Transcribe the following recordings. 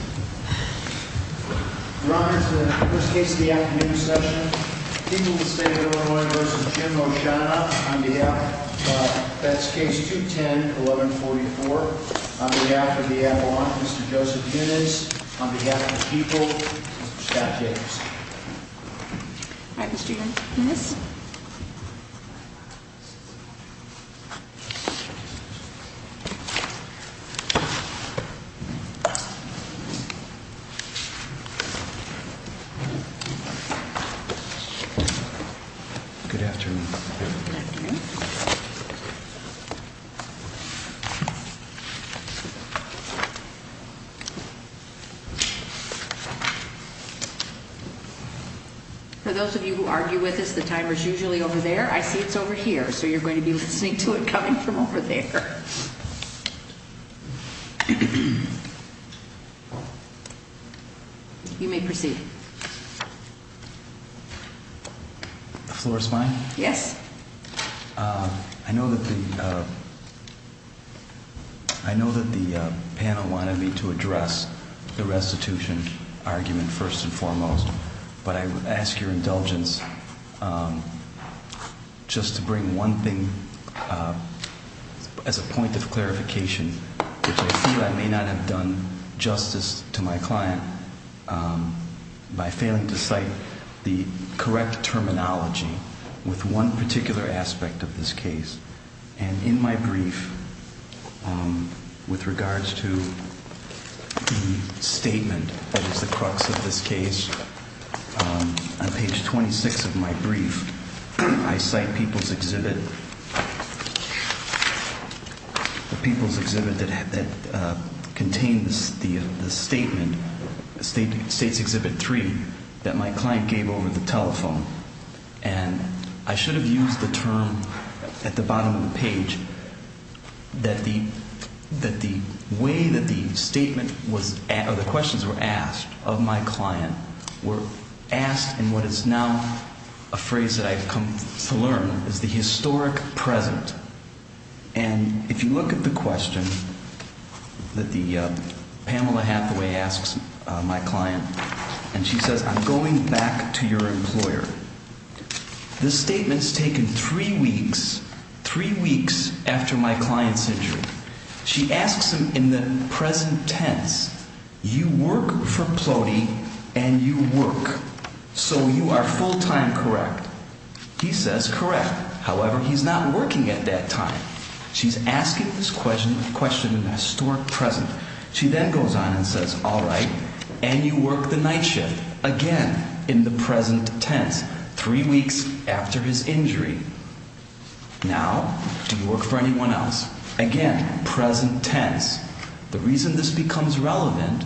On behalf of the state of Illinois v. Jim Oshana, on behalf of Feds Case 210-1144, on behalf of the Avalanche, Mr. Joseph Junitz, on behalf of the people, Mr. Scott Jacobson. All right, Mr. Junitz. Yes. Good afternoon. For those of you who argue with us, the timer's usually over there. I see it's over here, so you're going to be listening to it coming from over there. You may proceed. The floor is mine? Yes. I know that the panel wanted me to address the restitution argument first and foremost. But I would ask your indulgence just to bring one thing as a point of clarification, which I feel I may not have done justice to my client by failing to cite the correct terminology with one particular aspect of this case. And in my brief, with regards to the statement that is the crux of this case, on page 26 of my brief, I cite People's Exhibit, the People's Exhibit that contains the statement, State's Exhibit 3, that my client gave over the telephone. And I should have used the term at the bottom of the page that the way that the statement was – or the questions were asked of my client were asked in what is now a phrase that I've come to learn is the historic present. And if you look at the question that Pamela Hathaway asks my client, and she says, I'm going back to your employer, this statement's taken three weeks, three weeks after my client's injury. She asks him in the present tense, you work for Ploney and you work, so you are full-time correct. He says correct, however, he's not working at that time. She's asking this question in the historic present. She then goes on and says, all right, and you work the night shift, again, in the present tense, three weeks after his injury. Now, do you work for anyone else? Again, present tense. The reason this becomes relevant,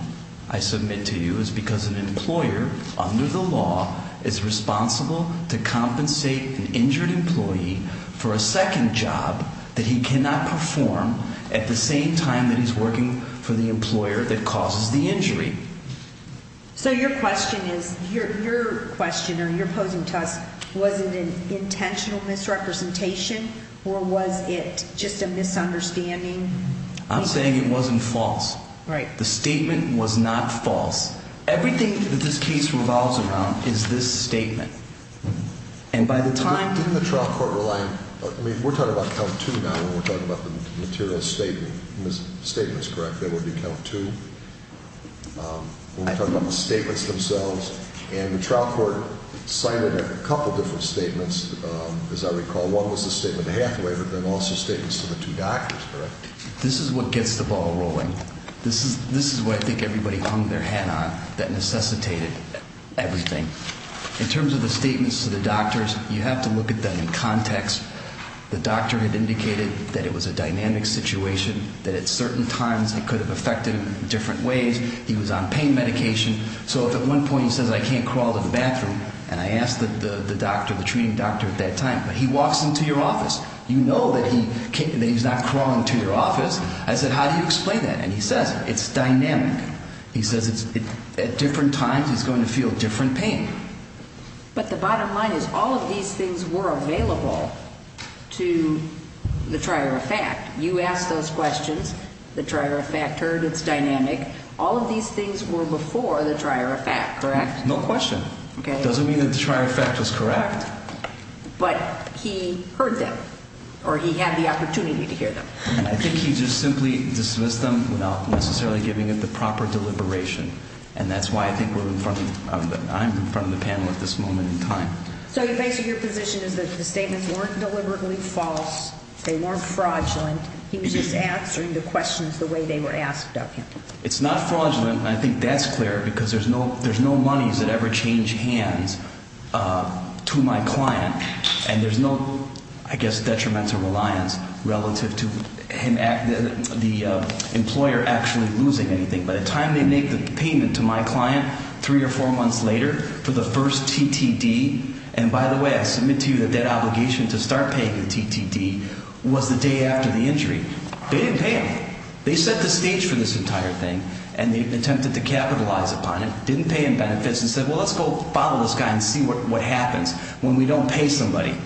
I submit to you, is because an employer under the law is responsible to compensate an injured employee for a second job that he cannot perform at the same time that he's working for the employer that causes the injury. So your question is, your question or you're posing to us, was it an intentional misrepresentation or was it just a misunderstanding? I'm saying it wasn't false. Right. The statement was not false. Everything that this case revolves around is this statement. And by the time... I mean, we're talking about count two now when we're talking about the material statement. The statement's correct. That would be count two. We're talking about the statements themselves. And the trial court cited a couple different statements, as I recall. One was the statement to Hathaway, but then also statements to the two doctors, correct? This is what gets the ball rolling. This is what I think everybody hung their hat on that necessitated everything. In terms of the statements to the doctors, you have to look at them in context. The doctor had indicated that it was a dynamic situation, that at certain times it could have affected him in different ways. He was on pain medication. So if at one point he says, I can't crawl to the bathroom, and I asked the doctor, the treating doctor at that time, but he walks into your office, you know that he's not crawling to your office. I said, how do you explain that? And he says, it's dynamic. He says at different times he's going to feel different pain. But the bottom line is all of these things were available to the trier of fact. You asked those questions. The trier of fact heard. It's dynamic. All of these things were before the trier of fact, correct? No question. It doesn't mean that the trier of fact was correct. But he heard them, or he had the opportunity to hear them. I think he just simply dismissed them without necessarily giving them the proper deliberation. And that's why I think I'm in front of the panel at this moment in time. So basically your position is that the statements weren't deliberately false. They weren't fraudulent. He was just answering the questions the way they were asked of him. It's not fraudulent, and I think that's clear because there's no monies that ever change hands to my client. And there's no, I guess, detrimental reliance relative to the employer actually losing anything. By the time they made the payment to my client three or four months later for the first TTD, and by the way, I submit to you that that obligation to start paying the TTD was the day after the injury. They didn't pay him. They set the stage for this entire thing, and they attempted to capitalize upon it. Didn't pay him benefits and said, well, let's go follow this guy and see what happens. When we don't pay somebody.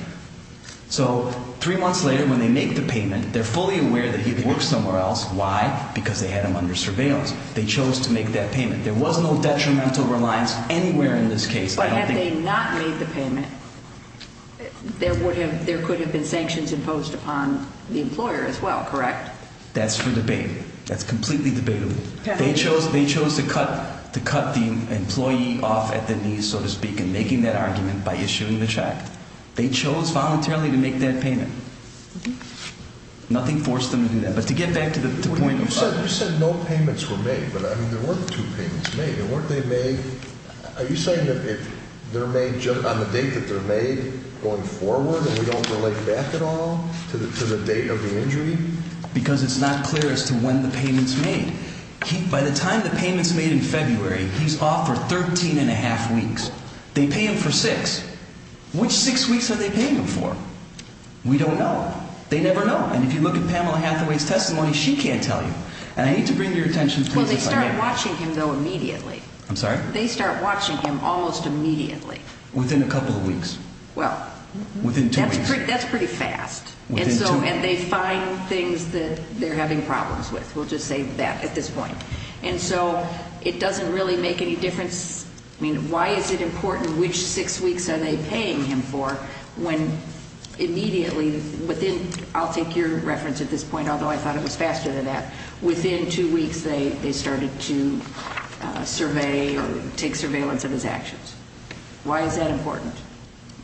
So three months later when they make the payment, they're fully aware that he could work somewhere else. Why? Because they had him under surveillance. They chose to make that payment. There was no detrimental reliance anywhere in this case. But had they not made the payment, there could have been sanctions imposed upon the employer as well, correct? That's for debate. That's completely debatable. They chose to cut the employee off at the knees, so to speak, and making that argument by issuing the check. They chose voluntarily to make that payment. Nothing forced them to do that. But to get back to the point of- You said no payments were made, but, I mean, there were two payments made. And weren't they made, are you saying that they're made on the date that they're made going forward and we don't relate back at all to the date of the injury? Because it's not clear as to when the payment's made. By the time the payment's made in February, he's off for 13 and a half weeks. They pay him for six. Which six weeks are they paying him for? We don't know. They never know. And if you look at Pamela Hathaway's testimony, she can't tell you. And I need to bring to your attention- Well, they start watching him, though, immediately. I'm sorry? They start watching him almost immediately. Within a couple of weeks. Well- Within two weeks. That's pretty fast. Within two weeks. And they find things that they're having problems with. We'll just say that at this point. And so it doesn't really make any difference. I mean, why is it important which six weeks are they paying him for when immediately within- I'll take your reference at this point, although I thought it was faster than that. Within two weeks, they started to survey or take surveillance of his actions. Why is that important?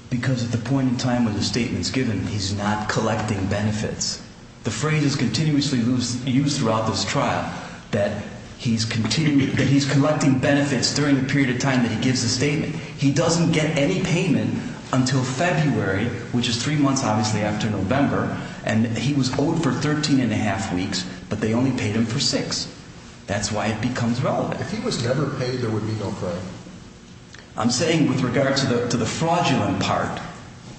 Because at the point in time when the statement's given, he's not collecting benefits. The phrase is continuously used throughout this trial, that he's collecting benefits during the period of time that he gives the statement. He doesn't get any payment until February, which is three months, obviously, after November. And he was owed for 13 1⁄2 weeks, but they only paid him for six. That's why it becomes relevant. If he was never paid, there would be no crime. I'm saying with regard to the fraudulent part,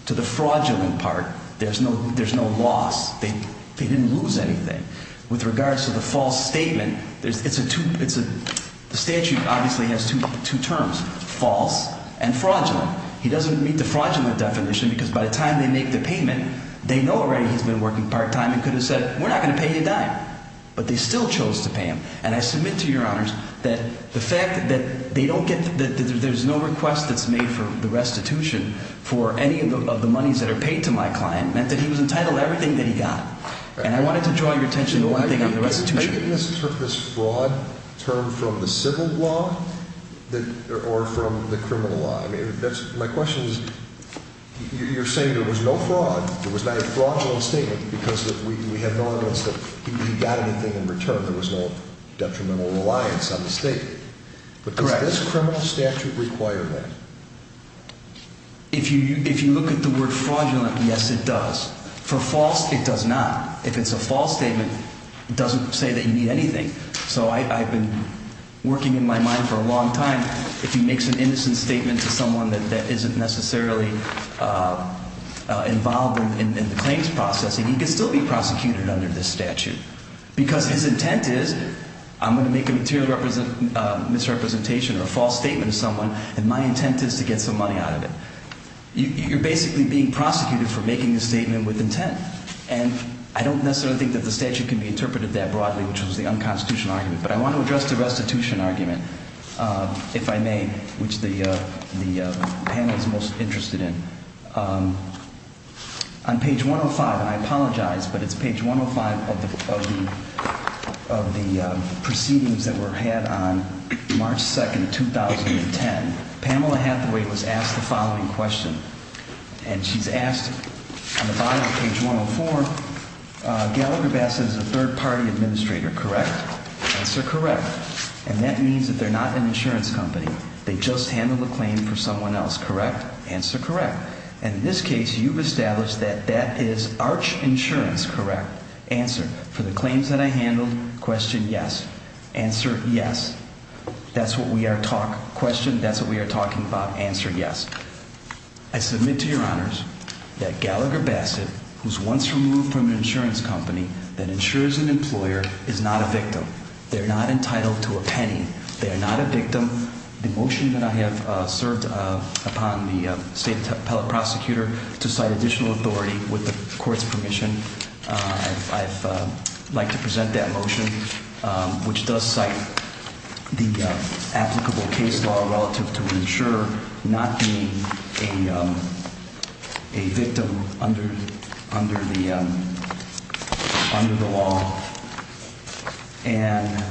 to the fraudulent part, there's no loss. They didn't lose anything. With regards to the false statement, it's a two- the statute obviously has two terms, false and fraudulent. He doesn't meet the fraudulent definition because by the time they make the payment, they know already he's been working part-time and could have said, we're not going to pay you a dime. But they still chose to pay him. And I submit to Your Honors that the fact that they don't get- that there's no request that's made for the restitution for any of the monies that are paid to my client meant that he was entitled to everything that he got. And I wanted to draw your attention to one thing on the restitution. Are you giving us this fraud term from the civil law or from the criminal law? I mean, that's- my question is, you're saying there was no fraud. There was not a fraudulent statement because we have no evidence that he got anything in return. There was no detrimental reliance on the statement. Correct. But does this criminal statute require that? If you look at the word fraudulent, yes, it does. For false, it does not. If it's a false statement, it doesn't say that you need anything. So I've been working in my mind for a long time. If he makes an innocent statement to someone that isn't necessarily involved in the claims processing, he can still be prosecuted under this statute. Because his intent is, I'm going to make a material misrepresentation or a false statement to someone, and my intent is to get some money out of it. You're basically being prosecuted for making a statement with intent. And I don't necessarily think that the statute can be interpreted that broadly, which was the unconstitutional argument. But I want to address the restitution argument, if I may, which the panel is most interested in. On page 105, and I apologize, but it's page 105 of the proceedings that were had on March 2, 2010. Pamela Hathaway was asked the following question. And she's asked, on the bottom of page 104, Gallagher Bassett is a third-party administrator, correct? Answer, correct. And that means that they're not an insurance company. They just handled a claim for someone else, correct? Answer, correct. And in this case, you've established that that is Arch Insurance, correct? Answer, for the claims that I handled, question, yes. Answer, yes. That's what we are talking about, question, that's what we are talking about, answer, yes. I submit to your honors that Gallagher Bassett, who's once removed from an insurance company, that insures an employer, is not a victim. They're not entitled to a penny. They are not a victim. The motion that I have served upon the state appellate prosecutor to cite additional authority with the court's permission, I'd like to present that motion, which does cite the applicable case law relative to insurer not being a victim under the law. And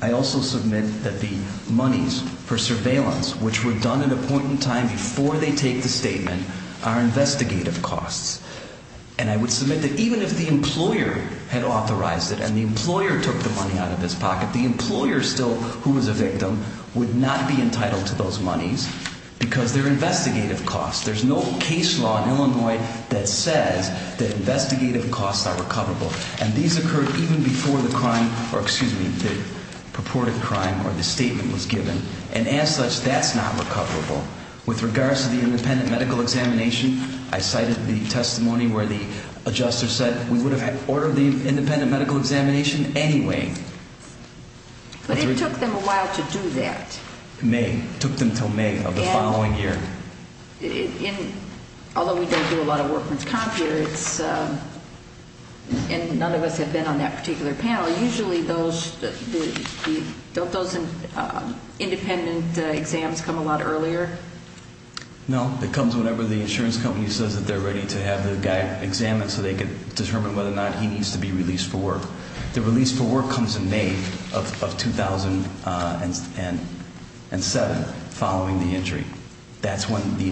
I also submit that the monies for surveillance, which were done at a point in time before they take the statement, are investigative costs. And I would submit that even if the employer had authorized it and the employer took the money out of his pocket, the employer still, who was a victim, would not be entitled to those monies because they're investigative costs. There's no case law in Illinois that says that investigative costs are recoverable. And these occurred even before the crime, or excuse me, the purported crime or the statement was given. And as such, that's not recoverable. With regards to the independent medical examination, I cited the testimony where the adjuster said, we would have ordered the independent medical examination anyway. But it took them a while to do that. May. It took them until May of the following year. Although we don't do a lot of work with comp here, and none of us have been on that particular panel, usually those independent exams come a lot earlier? No. It comes whenever the insurance company says that they're ready to have the guy examined so they can determine whether or not he needs to be released for work. The release for work comes in May of 2007, following the injury. That's when the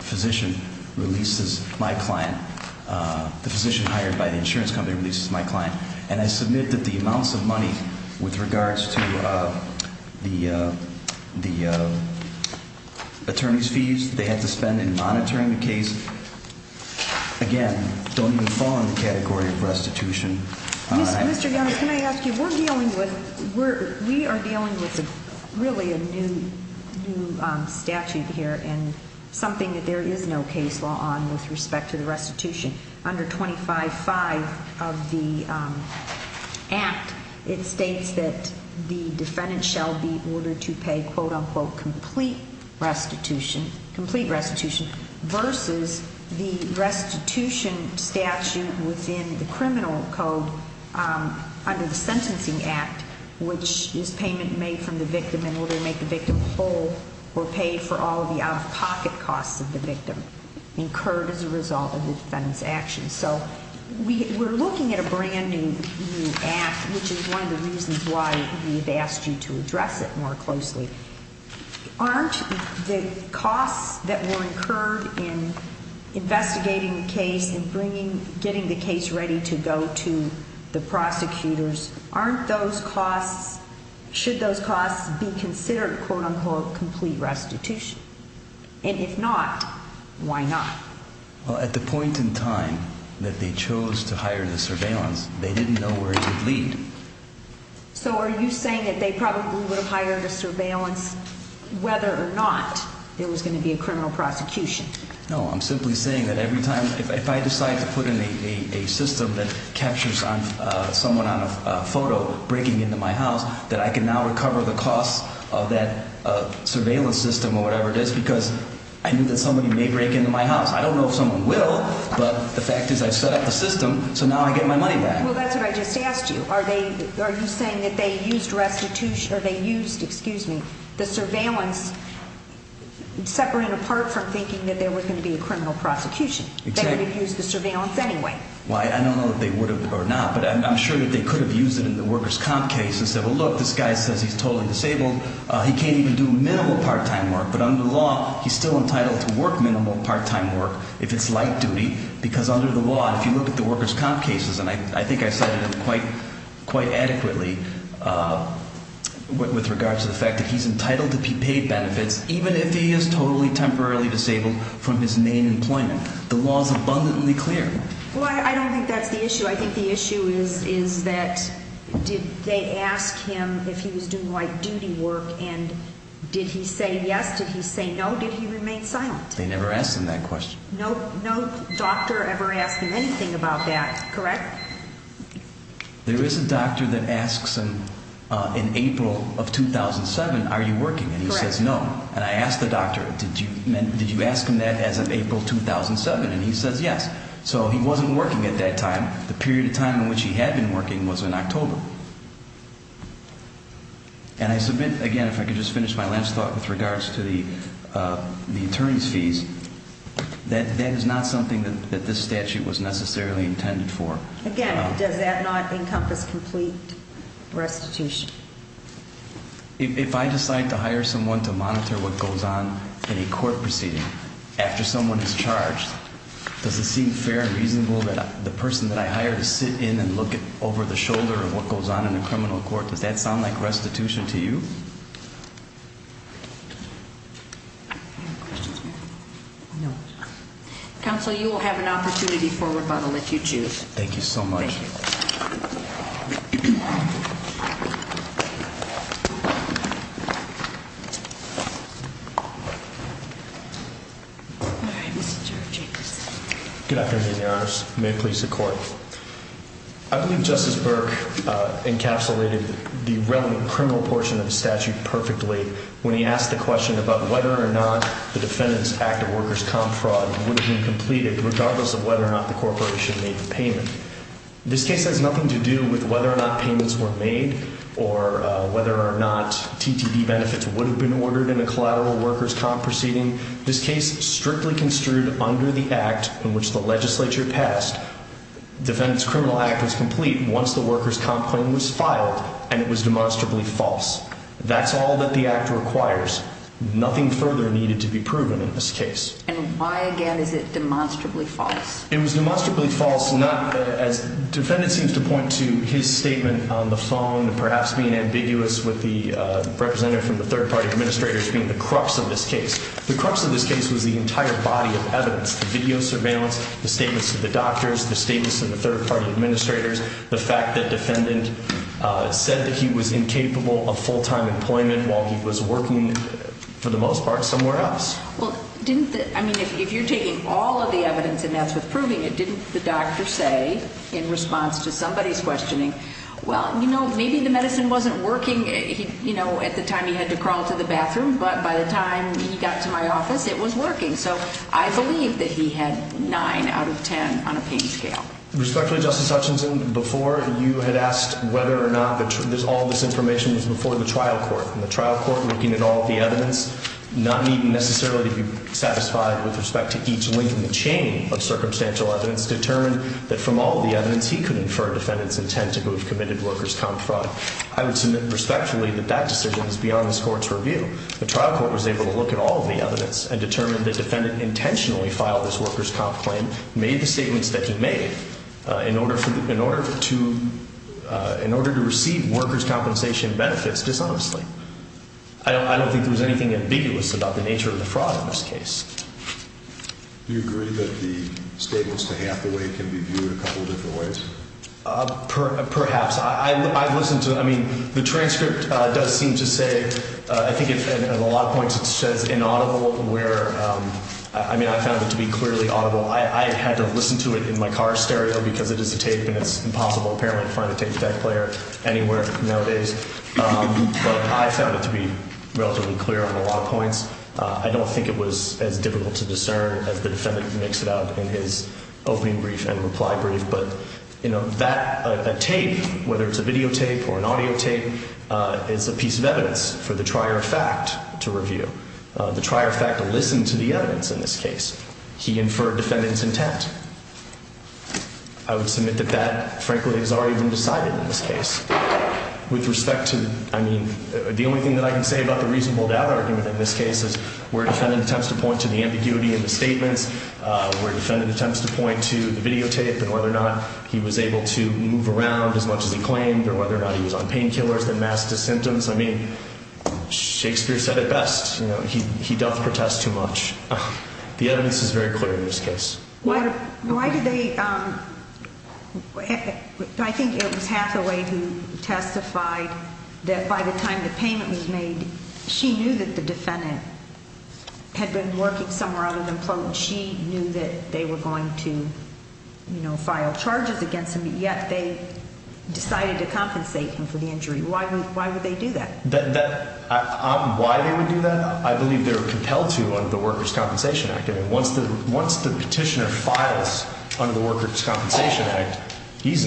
physician releases my client. The physician hired by the insurance company releases my client. And I submit that the amounts of money with regards to the attorney's fees they had to spend in monitoring the case, again, don't even fall in the category of restitution. Mr. Young, can I ask you, we are dealing with really a new statute here, and something that there is no case law on with respect to the restitution. Under 25-5 of the act, it states that the defendant shall be ordered to pay, quote unquote, complete restitution, versus the restitution statute within the criminal code under the sentencing act, which is payment made from the victim in order to make the victim whole, or paid for all of the out-of-pocket costs of the victim, incurred as a result of the defendant's actions. So we're looking at a brand new act, which is one of the reasons why we've asked you to address it more closely. Aren't the costs that were incurred in investigating the case and getting the case ready to go to the prosecutors, aren't those costs, should those costs be considered, quote unquote, complete restitution? And if not, why not? Well, at the point in time that they chose to hire the surveillance, they didn't know where it would lead. So are you saying that they probably would have hired a surveillance whether or not there was going to be a criminal prosecution? No, I'm simply saying that every time, if I decide to put in a system that captures someone on a photo breaking into my house, that I can now recover the costs of that surveillance system or whatever it is because I knew that somebody may break into my house. I don't know if someone will, but the fact is I've set up the system, so now I get my money back. Well, that's what I just asked you. Are you saying that they used restitution or they used, excuse me, the surveillance separate and apart from thinking that there was going to be a criminal prosecution? They would have used the surveillance anyway. Well, I don't know if they would have or not, but I'm sure that they could have used it in the workers' comp case and said, well, look, this guy says he's totally disabled, he can't even do minimal part-time work, but under the law, he's still entitled to work minimal part-time work if it's light duty because under the law, if you look at the workers' comp cases, and I think I cited them quite adequately with regards to the fact that he's entitled to be paid benefits even if he is totally temporarily disabled from his main employment. The law is abundantly clear. Well, I don't think that's the issue. I think the issue is that did they ask him if he was doing light duty work, and did he say yes, did he say no, did he remain silent? They never asked him that question. No doctor ever asked him anything about that, correct? There is a doctor that asks him in April of 2007, are you working, and he says no. And I asked the doctor, did you ask him that as of April 2007, and he says yes. So he wasn't working at that time. The period of time in which he had been working was in October. And I submit, again, if I could just finish my last thought with regards to the attorney's fees, that that is not something that this statute was necessarily intended for. Again, does that not encompass complete restitution? If I decide to hire someone to monitor what goes on in a court proceeding after someone is charged, does it seem fair and reasonable that the person that I hire to sit in and look over the shoulder of what goes on in a criminal court, does that sound like restitution to you? Counsel, you will have an opportunity for rebuttal if you choose. Thank you so much. Thank you. Thank you. All right, Mr. Jacobs. Good afternoon, Your Honors. May it please the Court. I believe Justice Burke encapsulated the relevant criminal portion of the statute perfectly when he asked the question about whether or not the Defendant's Act of Workers' Comp Fraud would have been completed regardless of whether or not the corporation made the payment. This case has nothing to do with whether or not payments were made or whether or not TTD benefits would have been ordered in a collateral workers' comp proceeding. This case strictly construed under the act in which the legislature passed, Defendant's Criminal Act was complete once the workers' comp claim was filed, and it was demonstrably false. That's all that the act requires. Nothing further needed to be proven in this case. And why, again, is it demonstrably false? It was demonstrably false not as the Defendant seems to point to his statement on the phone and perhaps being ambiguous with the representative from the third-party administrators being the crux of this case. The crux of this case was the entire body of evidence, the video surveillance, the statements to the doctors, the statements to the third-party administrators, the fact that the Defendant said that he was incapable of full-time employment while he was working, for the most part, somewhere else. Well, didn't the – I mean, if you're taking all of the evidence and that's what's proving it, didn't the doctor say in response to somebody's questioning, well, you know, maybe the medicine wasn't working, you know, at the time he had to crawl to the bathroom, but by the time he got to my office, it was working. So I believe that he had 9 out of 10 on a pain scale. Respectfully, Justice Hutchinson, before you had asked whether or not all this information was before the trial court, and the trial court, looking at all of the evidence, not needing necessarily to be satisfied with respect to each link in the chain of circumstantial evidence, determined that from all of the evidence, he could infer Defendant's intent to have committed workers' comp fraud. I would submit respectfully that that decision is beyond this Court's review. The trial court was able to look at all of the evidence and determined that Defendant intentionally filed this workers' comp claim, made the statements that he made in order to receive workers' compensation benefits dishonestly. I don't think there was anything ambiguous about the nature of the fraud in this case. Do you agree that the statements to Hathaway can be viewed a couple of different ways? Perhaps. I've listened to, I mean, the transcript does seem to say, I think at a lot of points it says inaudible where, I mean, I found it to be clearly audible. I had to listen to it in my car stereo because it is a tape, and it's impossible apparently to find a tape deck player anywhere nowadays. But I found it to be relatively clear on a lot of points. I don't think it was as difficult to discern as the Defendant makes it out in his opening brief and reply brief. But, you know, that tape, whether it's a video tape or an audio tape, is a piece of evidence for the trier of fact to review. The trier of fact will listen to the evidence in this case. He inferred Defendant's intent. I would submit that that, frankly, has already been decided in this case. With respect to, I mean, the only thing that I can say about the reasonable doubt argument in this case is where Defendant attempts to point to the ambiguity in the statements, where Defendant attempts to point to the video tape, and whether or not he was able to move around as much as he claimed, or whether or not he was on painkillers that masked his symptoms, I mean, Shakespeare said it best, you know, he doth protest too much. The evidence is very clear in this case. Why did they, I think it was Hathaway who testified that by the time the payment was made, she knew that the Defendant had been working somewhere out of employment. She knew that they were going to, you know, file charges against him, but yet they decided to compensate him for the injury. Why would they do that? Why they would do that, I believe they were compelled to under the Workers' Compensation Act. I mean, once the petitioner files under the Workers' Compensation Act, he's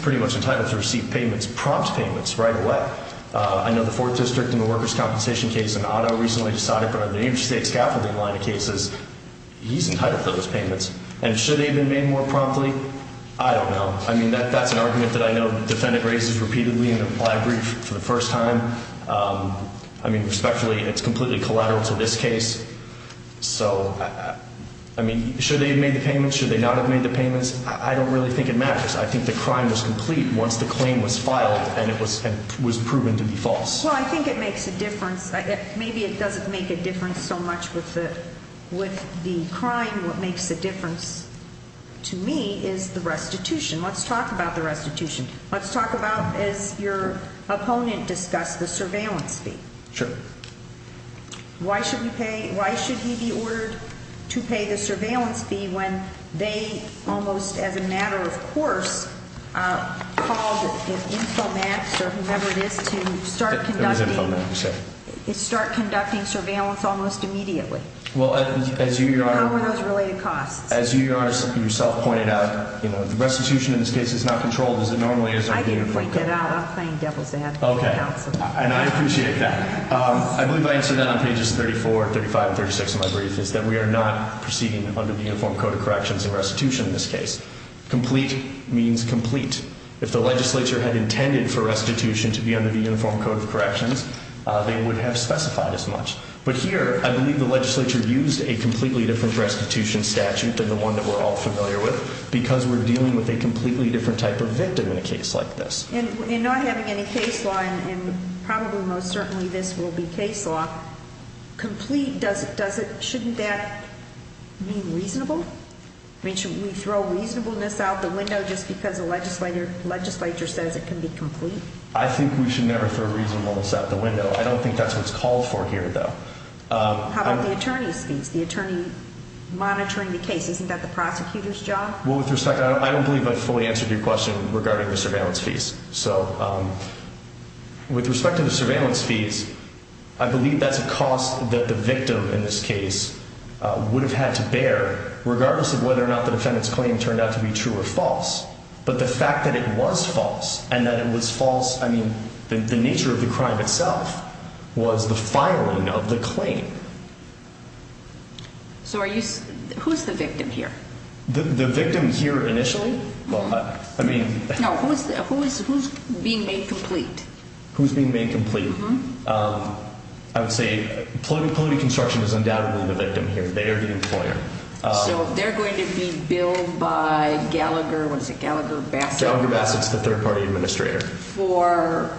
pretty much entitled to receive payments, prompt payments, right away. I know the Fourth District in the Workers' Compensation case, and Otto recently decided, but on the interstate scaffolding line of cases, he's entitled to those payments. And should they have been made more promptly? I don't know. I mean, that's an argument that I know the Defendant raises repeatedly, and I agree for the first time. I mean, respectfully, it's completely collateral to this case. So, I mean, should they have made the payments? Should they not have made the payments? I don't really think it matters. I think the crime was complete once the claim was filed and it was proven to be false. Well, I think it makes a difference. Maybe it doesn't make a difference so much with the crime. What makes a difference to me is the restitution. Let's talk about the restitution. Let's talk about, as your opponent discussed, the surveillance fee. Sure. Why should he be ordered to pay the surveillance fee when they, almost as a matter of course, called Infomax or whomever it is to start conducting surveillance almost immediately? Well, as you, Your Honor. How are those related costs? As you, Your Honor, yourself pointed out, the restitution in this case is not controlled. As it normally is. I can point that out. I'm playing devil's advocate counsel. Okay. And I appreciate that. I believe I answered that on pages 34, 35, and 36 of my brief, is that we are not proceeding under the Uniform Code of Corrections in restitution in this case. Complete means complete. If the legislature had intended for restitution to be under the Uniform Code of Corrections, they would have specified as much. But here, I believe the legislature used a completely different restitution statute than the one that we're all familiar with because we're dealing with a completely different type of victim in a case like this. In not having any case law, and probably most certainly this will be case law, complete, shouldn't that mean reasonable? I mean, should we throw reasonableness out the window just because the legislature says it can be complete? I think we should never throw reasonableness out the window. I don't think that's what's called for here, though. How about the attorney's fees? The attorney monitoring the case. Isn't that the prosecutor's job? Well, with respect, I don't believe I fully answered your question regarding the surveillance fees. So with respect to the surveillance fees, I believe that's a cost that the victim in this case would have had to bear regardless of whether or not the defendant's claim turned out to be true or false. But the fact that it was false and that it was false, I mean, the nature of the crime itself was the filing of the claim. So who's the victim here? The victim here initially? Well, I mean... No, who's being made complete? Who's being made complete? I would say, polity construction is undoubtedly the victim here. They are the employer. So they're going to be billed by Gallagher, what is it, Gallagher-Bassett? Gallagher-Bassett's the third party administrator. For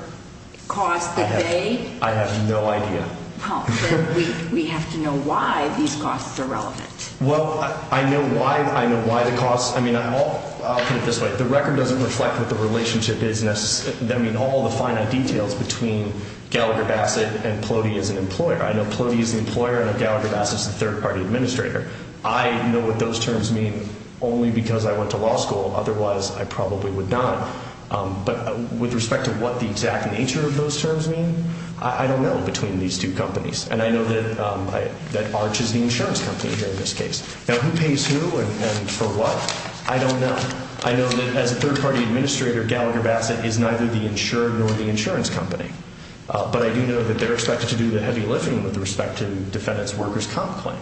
costs that they... I have no idea. Well, then we have to know why these costs are relevant. Well, I know why the costs... I mean, I'll put it this way. The record doesn't reflect what the relationship is necessarily... I mean, all the finite details between Gallagher-Bassett and Polity as an employer. I know Polity is the employer, I know Gallagher-Bassett's the third party administrator. I know what those terms mean only because I went to law school. Otherwise, I probably would not. But with respect to what the exact nature of those terms mean, I don't know between these two companies. And I know that Arch is the insurance company here in this case. Now, who pays who and for what? I don't know. I know that as a third party administrator, Gallagher-Bassett is neither the insurer nor the insurance company. But I do know that they're expected to do the heavy lifting with respect to defendants' workers' comp claim.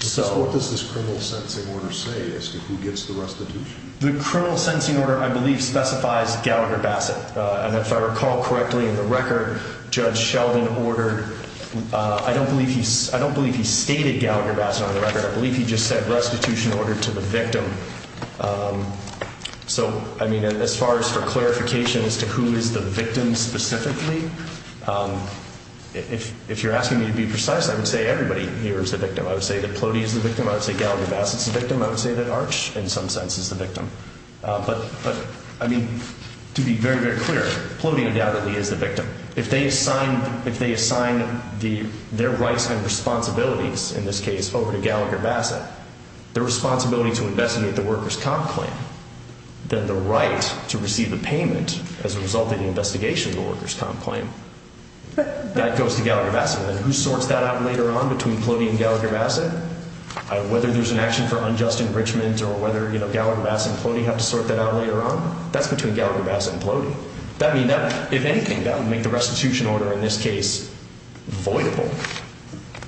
So... What does this criminal sentencing order say as to who gets the restitution? The criminal sentencing order, I believe, specifies Gallagher-Bassett. And if I recall correctly in the record, Judge Sheldon ordered... I don't believe he stated Gallagher-Bassett on the record. I believe he just said restitution ordered to the victim. So, I mean, as far as for clarification as to who is the victim specifically, if you're asking me to be precise, I would say everybody here is the victim. I would say that Polity is the victim. I would say Gallagher-Bassett's the victim. I would say that Arch, in some sense, is the victim. But, I mean, to be very, very clear, Polity undoubtedly is the victim. If they assign their rights and responsibilities, in this case, over to Gallagher-Bassett, their responsibility to investigate the workers' comp claim, then the right to receive the payment as a result of the investigation of the workers' comp claim, that goes to Gallagher-Bassett. And who sorts that out later on between Polity and Gallagher-Bassett? Whether there's an action for unjust enrichment or whether, you know, Gallagher-Bassett and Polity have to sort that out later on? That's between Gallagher-Bassett and Polity. If anything, that would make the restitution order, in this case, voidable.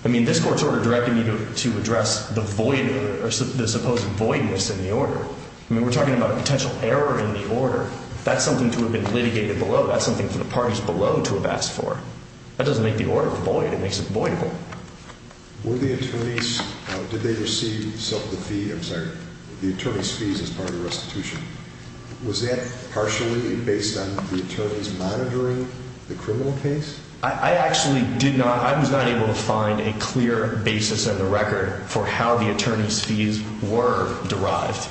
I mean, this court's order directed me to address the void or the supposed voidness in the order. I mean, we're talking about a potential error in the order. That's something to have been litigated below. That's something for the parties below to have asked for. That doesn't make the order void. It makes it voidable. Were the attorneys, did they receive some of the fees, I'm sorry, the attorneys' fees as part of the restitution? Was that partially based on the attorneys monitoring the criminal case? I actually did not, I was not able to find a clear basis in the record for how the attorneys' fees were derived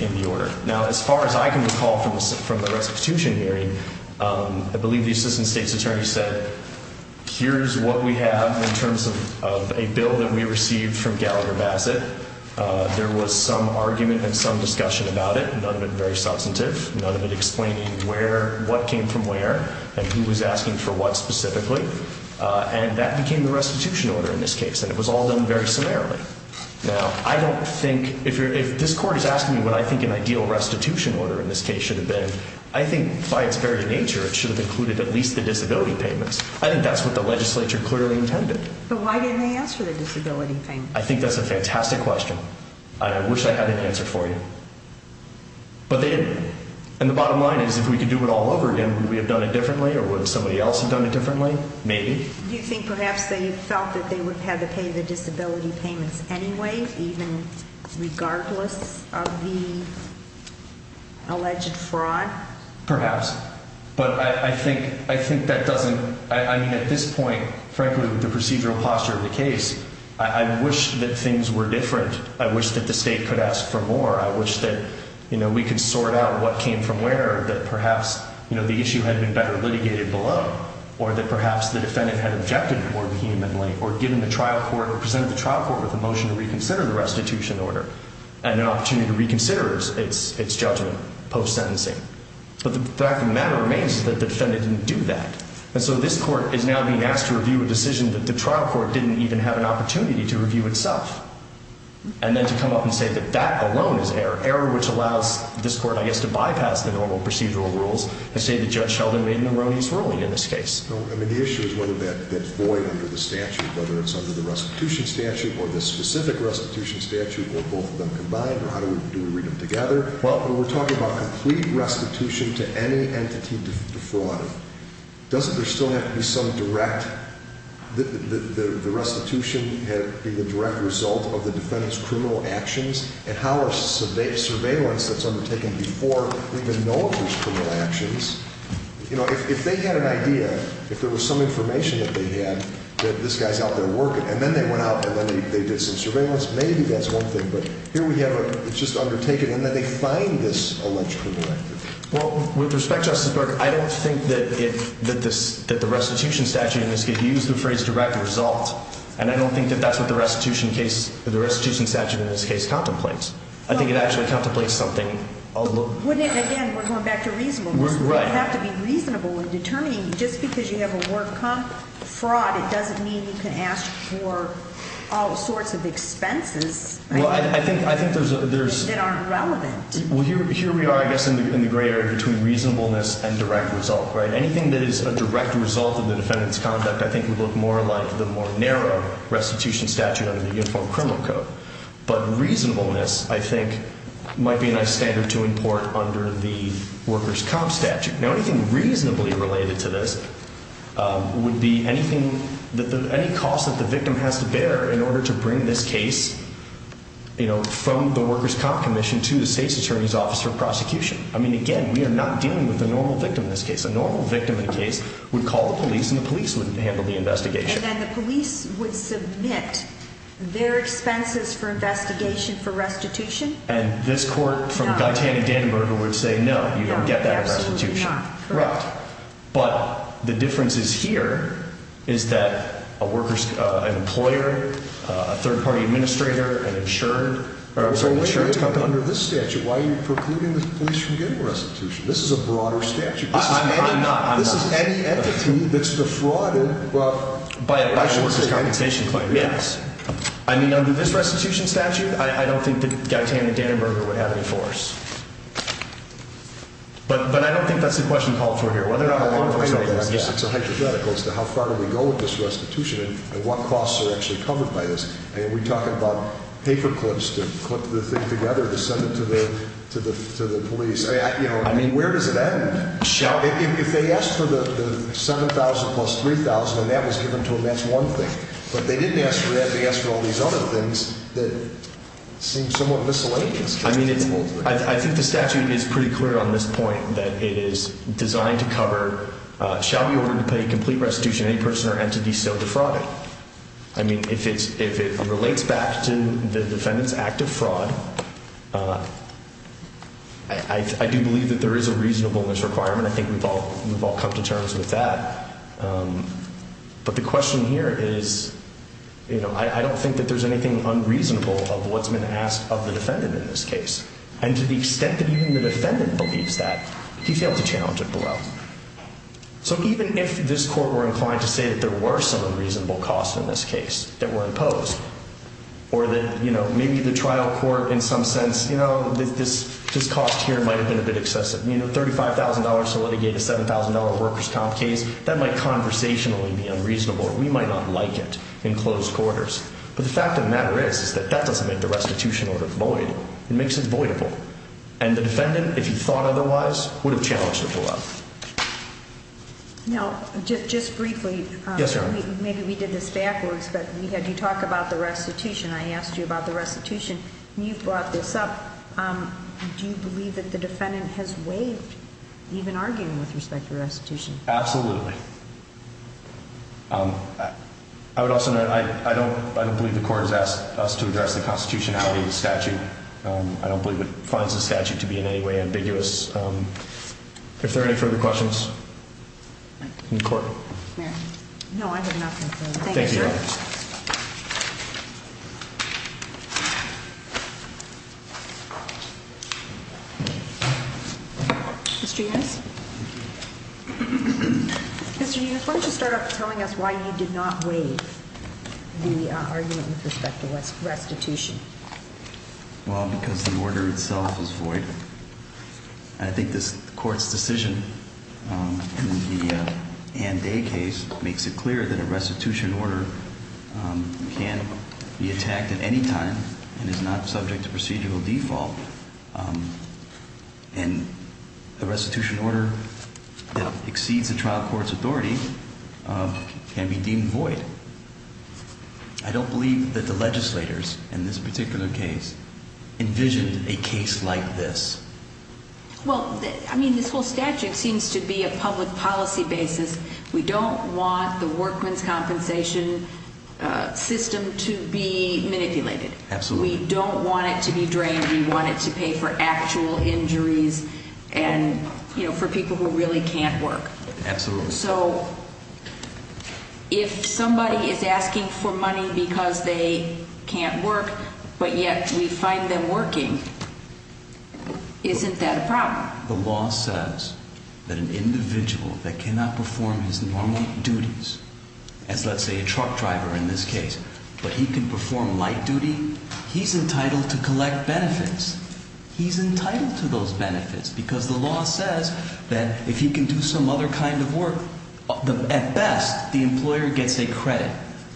in the order. Now, as far as I can recall from the restitution hearing, I believe the assistant state's attorney said, here's what we have in terms of a bill that we received from Gallagher-Bassett. There was some argument and some discussion about it, none of it very substantive, none of it explaining where, what came from where, and who was asking for what specifically. And that became the restitution order in this case, and it was all done very summarily. Now, I don't think, if this court is asking me what I think an ideal restitution order in this case should have been, I think by its very nature, it should have included at least the disability payments. I think that's what the legislature clearly intended. But why didn't they ask for the disability payments? I think that's a fantastic question. I wish I had an answer for you. But they didn't. And the bottom line is, if we could do it all over again, would we have done it differently or would somebody else have done it differently? Maybe. Do you think perhaps they felt that they would have had to pay the disability payments anyway, even regardless of the alleged fraud? Perhaps. But I think that doesn't, I mean, at this point, frankly, with the procedural posture of the case, I wish that things were different. I wish that the state could ask for more. I wish that we could sort out what came from where, that perhaps the issue had been better litigated below, or that perhaps the defendant had objected more vehemently, or presented the trial court with a motion to reconsider the restitution order and an opportunity to reconsider its judgment post-sentencing. But the fact of the matter remains is that the defendant didn't do that. And so this court is now being asked to review a decision that the trial court didn't even have an opportunity to review itself, and then to come up and say that that alone is error, error which allows this court, I guess, to bypass the normal procedural rules and say that Judge Sheldon made an erroneous ruling in this case. I mean, the issue is whether that void under the statute, whether it's under the restitution statute or the specific restitution statute, or both of them combined, or how do we read them together? Well, when we're talking about complete restitution to any entity defrauded, doesn't there still have to be some direct, the restitution be the direct result of the defendant's criminal actions? And how is surveillance that's undertaken before we even know if there's criminal actions? You know, if they had an idea, if there was some information that they had that this guy's out there working, and then they went out and then they did some surveillance, maybe that's one thing. But here we have it, it's just undertaken, and then they find this allegedly directed. Well, with respect, Justice Burke, I don't think that it, that the restitution statute in this case used the phrase direct result. And I don't think that that's what the restitution case, the restitution statute in this case contemplates. I think it actually contemplates something a little. Wouldn't it, again, we're going back to reasonableness. Right. It would have to be reasonable in determining just because you have a work comp fraud, it Well, I think, I think there's, there's. That aren't relevant. Well, here, here we are, I guess, in the gray area between reasonableness and direct result. Right. Anything that is a direct result of the defendant's conduct, I think would look more like the more narrow restitution statute under the Uniform Criminal Code. But reasonableness, I think, might be a nice standard to import under the worker's comp statute. Now, anything reasonably related to this would be anything that the, any cost that the victim has to bear in order to bring this case, you know, from the worker's comp commission to the state's attorney's office for prosecution. I mean, again, we are not dealing with a normal victim in this case. A normal victim in a case would call the police and the police would handle the investigation. And then the police would submit their expenses for investigation for restitution. And this court from Guy Tanning Danaber would say, no, you don't get that in restitution. Absolutely not. Correct. But the difference is here is that a worker's, an employer, a third party administrator, an insured, or I'm sorry, an insured company. Under this statute, why are you precluding the police from getting restitution? This is a broader statute. I'm not. This is any entity that's defrauded by a worker's compensation claim. Yes. I mean, under this restitution statute, I don't think that Guy Tanning Danaber would have any force. But, but I don't think that's the question called for here. Whether or not. It's a hypothetical as to how far we go with this restitution and what costs are actually covered by this. And we talk about paper clips to clip the thing together to send it to the, to the, to the police. I mean, where does it end? If they ask for the 7,000 plus 3,000 and that was given to them, that's one thing. But they didn't ask for that. They asked for all these other things that seem somewhat miscellaneous. I mean, I think the statute is pretty clear on this point that it is designed to cover shall be ordered to pay complete restitution. Any person or entity still defrauded. I mean, if it's, if it relates back to the defendant's active fraud. I do believe that there is a reasonableness requirement. I think we've all, we've all come to terms with that. But the question here is, you know, I don't think that there's anything unreasonable of what's been asked of the defendant in this case. And to the extent that even the defendant believes that he failed to challenge it below. So even if this court were inclined to say that there were some unreasonable costs in this case that were imposed or that, you know, maybe the trial court in some sense, you know, this, this cost here might've been a bit excessive, you know, $35,000 to litigate a $7,000 workers comp case that might conversationally be unreasonable. We might not like it in closed quarters. But the fact of the matter is, is that that doesn't make the restitution or the void. It makes it avoidable. And the defendant, if you thought otherwise would have challenged to pull up. No, just, just briefly. Maybe we did this backwards, but we had you talk about the restitution. I asked you about the restitution and you brought this up. Do you believe that the defendant has waived even arguing with respect to restitution? Absolutely. I would also know, I don't, I don't believe the court has asked us to address the constitutionality of the statute. I don't believe it finds the statute to be in any way ambiguous. If there are any further questions in court. No, I have nothing. Thank you. Mr. Unis, why don't you start off telling us why you did not waive the argument with respect to restitution? Well, because the order itself is void. And I think this court's decision in the Ann Day case makes it clear that a restitution order can be attacked at any time and is not subject to procedural default. And the restitution order that exceeds the trial court's authority can be deemed void. I don't believe that the legislators in this particular case envisioned a case like this. Well, I mean, this whole statute seems to be a public policy basis. We don't want the workman's compensation system to be manipulated. Absolutely. We don't want it to be drained. We want it to pay for actual injuries and, you know, for people who really can't work. Absolutely. So, if somebody is asking for money because they can't work, but yet we find them working, isn't that a problem? The law says that an individual that cannot perform his normal duties, as let's say a truck driver in this case, but he can perform light duty, he's entitled to collect benefits. He's entitled to those benefits because the law says that if he can do some other kind of work, at best, the employer gets a credit.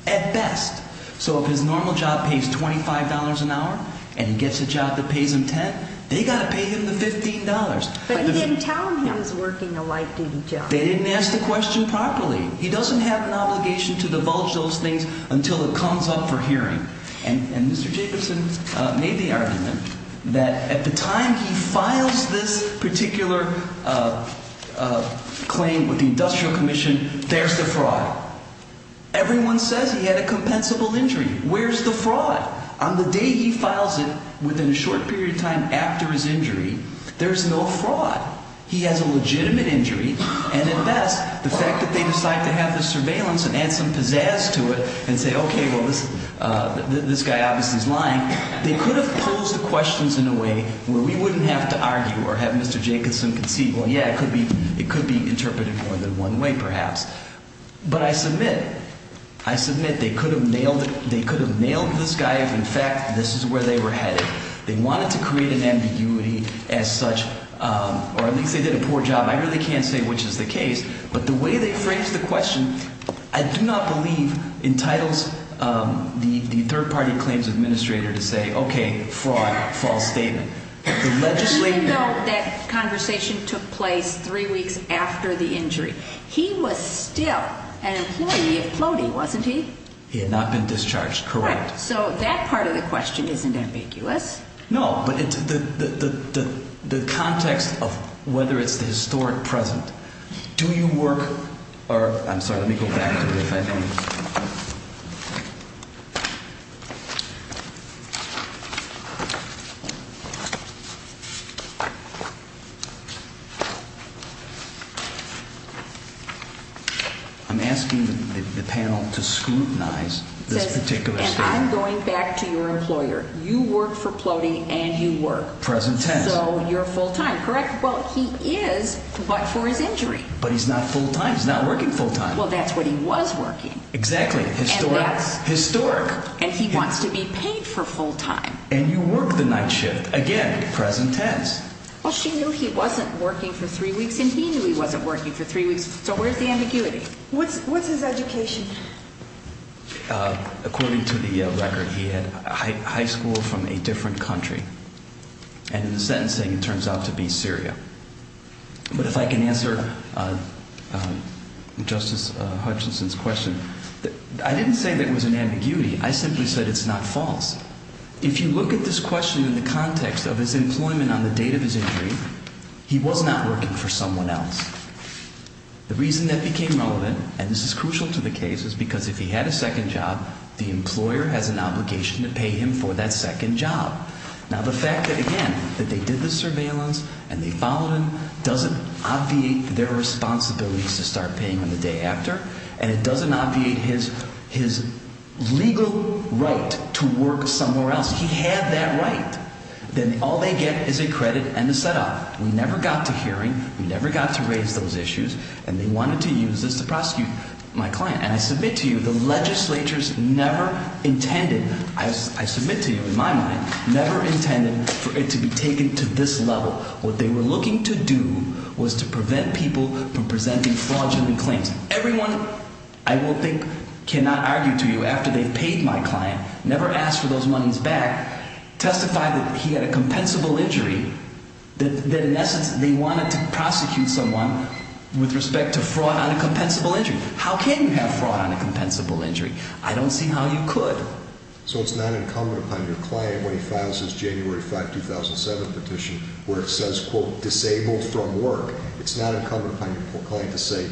At best. So if his normal job pays $25 an hour and he gets a job that pays him $10, they've got to pay him the $15. But he didn't tell them he was working a light duty job. They didn't ask the question properly. He doesn't have an obligation to divulge those things until it comes up for hearing. And Mr. Jacobson made the argument that at the time he files this particular claim with the Industrial Commission, there's the fraud. Everyone says he had a compensable injury. Where's the fraud? On the day he files it, within a short period of time after his injury, there's no fraud. He has a legitimate injury. And at best, the fact that they decide to have this surveillance and add some pizzazz to it and say, okay, well, this guy obviously is lying, they could have posed the questions in a way where we wouldn't have to argue or have Mr. Jacobson concede, well, yeah, it could be interpreted more than one way, perhaps. But I submit, I submit they could have nailed this guy if, in fact, this is where they were headed. They wanted to create an ambiguity as such, or at least they did a poor job. I really can't say which is the case. But the way they phrased the question, I do not believe, entitles the third-party claims administrator to say, okay, fraud, false statement. Even though that conversation took place three weeks after the injury, he was still an employee of Clody, wasn't he? He had not been discharged, correct. So that part of the question isn't ambiguous. No, but the context of whether it's the historic present. Do you work, or, I'm sorry, let me go back to it if I can. I'm asking the panel to scrutinize this particular statement. I'm going back to your employer. You work for Clody, and you work. Present tense. So you're full-time, correct? Well, he is, but for his injury. But he's not full-time. He's not working full-time. Well, that's what he was working. Exactly. Historic. Historic. And he wants to be paid for full-time. And you work the night shift. Again, present tense. Well, she knew he wasn't working for three weeks, and he knew he wasn't working for three weeks. So where's the ambiguity? What's his education? According to the record, he had high school from a different country. And the sentencing, it turns out, to be Syria. But if I can answer Justice Hutchinson's question, I didn't say that it was an ambiguity. I simply said it's not false. If you look at this question in the context of his employment on the date of his injury, he was not working for someone else. The reason that became relevant, and this is crucial to the case, is because if he had a second job, the employer has an obligation to pay him for that second job. Now, the fact that, again, that they did the surveillance and they followed him doesn't obviate their responsibilities to start paying him the day after. And it doesn't obviate his legal right to work somewhere else. He had that right. Then all they get is a credit and a set-off. We never got to hearing. We never got to raise those issues. And they wanted to use this to prosecute my client. And I submit to you the legislature's never intended, I submit to you in my mind, never intended for it to be taken to this level. What they were looking to do was to prevent people from presenting fraudulent claims. Everyone, I will think, cannot argue to you after they paid my client, never asked for those monies back, testified that he had a compensable injury. That, in essence, they wanted to prosecute someone with respect to fraud on a compensable injury. How can you have fraud on a compensable injury? I don't see how you could. So it's not incumbent upon your client when he files his January 5, 2007 petition where it says, quote, disabled from work. It's not incumbent upon your client to say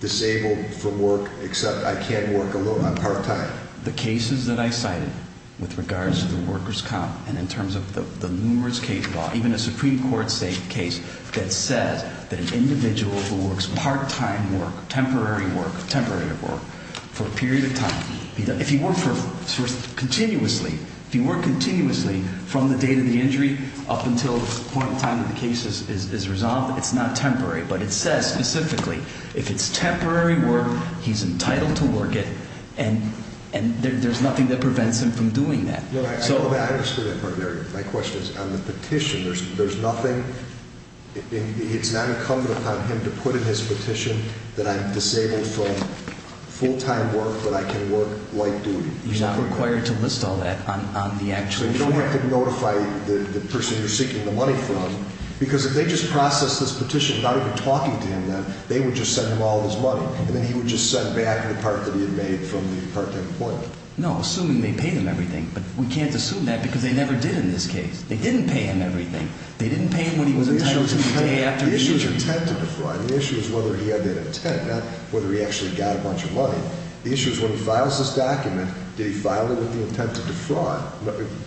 disabled from work except I can't work alone. I'm part-time. The cases that I cited with regards to the workers' comp and in terms of the numerous case law, even a Supreme Court case that says that an individual who works part-time work, temporary work, temporary work, for a period of time. If you work continuously, if you work continuously from the date of the injury up until the point in time when the case is resolved, it's not temporary. But it says specifically if it's temporary work, he's entitled to work it, and there's nothing that prevents him from doing that. I understand that, partner. My question is on the petition, there's nothing – it's not incumbent upon him to put in his petition that I'm disabled from full-time work but I can work light duty. You're not required to list all that on the actual form. So you don't have to notify the person you're seeking the money from because if they just process this petition not even talking to him then, they would just send him all of his money and then he would just send back the part that he had made from the part-time employment. No, assuming they pay them everything. But we can't assume that because they never did in this case. They didn't pay him everything. They didn't pay him what he was entitled to the day after the injury. The issue is intent to defraud. The issue is whether he had that intent, not whether he actually got a bunch of money. The issue is when he files this document, did he file it with the intent to defraud?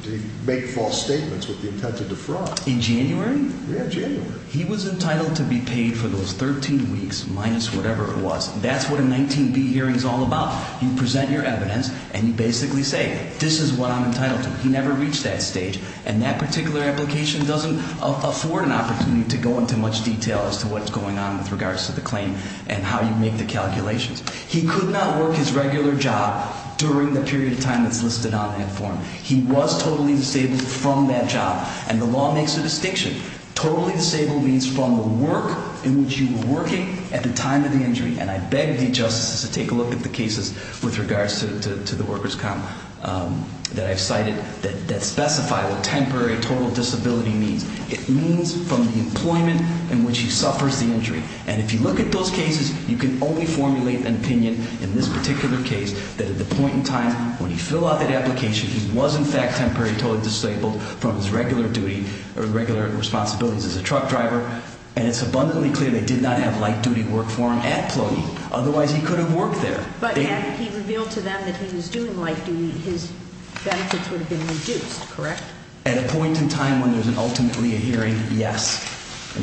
Did he make false statements with the intent to defraud? In January? Yeah, January. He was entitled to be paid for those 13 weeks minus whatever it was. That's what a 19B hearing is all about. You present your evidence and you basically say this is what I'm entitled to. He never reached that stage and that particular application doesn't afford an opportunity to go into much detail as to what's going on with regards to the claim and how you make the calculations. He could not work his regular job during the period of time that's listed on that form. He was totally disabled from that job. And the law makes a distinction. Totally disabled means from the work in which you were working at the time of the injury. And I beg the justices to take a look at the cases with regards to the worker's comp that I've cited that specify what temporary total disability means. It means from the employment in which he suffers the injury. And if you look at those cases, you can only formulate an opinion in this particular case that at the point in time when you fill out that application, he was in fact temporarily totally disabled from his regular duty or regular responsibilities as a truck driver. And it's abundantly clear they did not have light duty work for him at Plotie. Otherwise, he could have worked there. But had he revealed to them that he was doing light duty, his benefits would have been reduced, correct? At a point in time when there's ultimately a hearing, yes.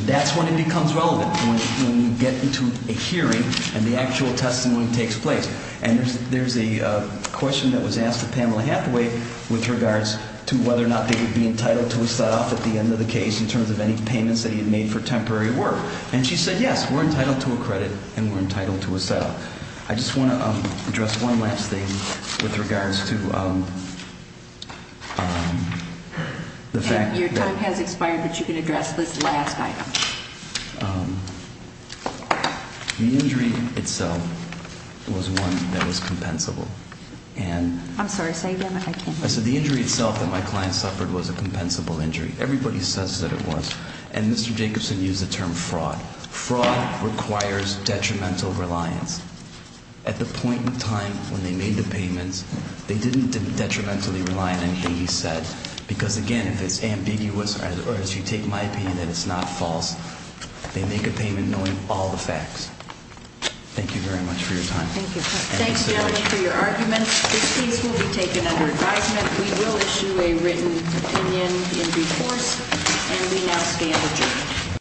That's when it becomes relevant, when you get into a hearing and the actual testimony takes place. And there's a question that was asked of Pamela Hathaway with regards to whether or not they would be entitled to a set-off at the end of the case in terms of any payments that he had made for temporary work. And she said, yes, we're entitled to a credit and we're entitled to a set-off. But I just want to address one last thing with regards to the fact that- Your time has expired, but you can address this last item. The injury itself was one that was compensable. And- I'm sorry, say again. I can't hear you. I said the injury itself that my client suffered was a compensable injury. Everybody says that it was. And Mr. Jacobson used the term fraud. Fraud requires detrimental reliance. At the point in time when they made the payments, they didn't detrimentally rely on anything he said. Because, again, if it's ambiguous or as you take my opinion that it's not false, they make a payment knowing all the facts. Thank you very much for your time. Thank you. Thanks so much for your argument. This case will be taken under advisement. We will issue a written opinion in due course. And we now stand adjourned.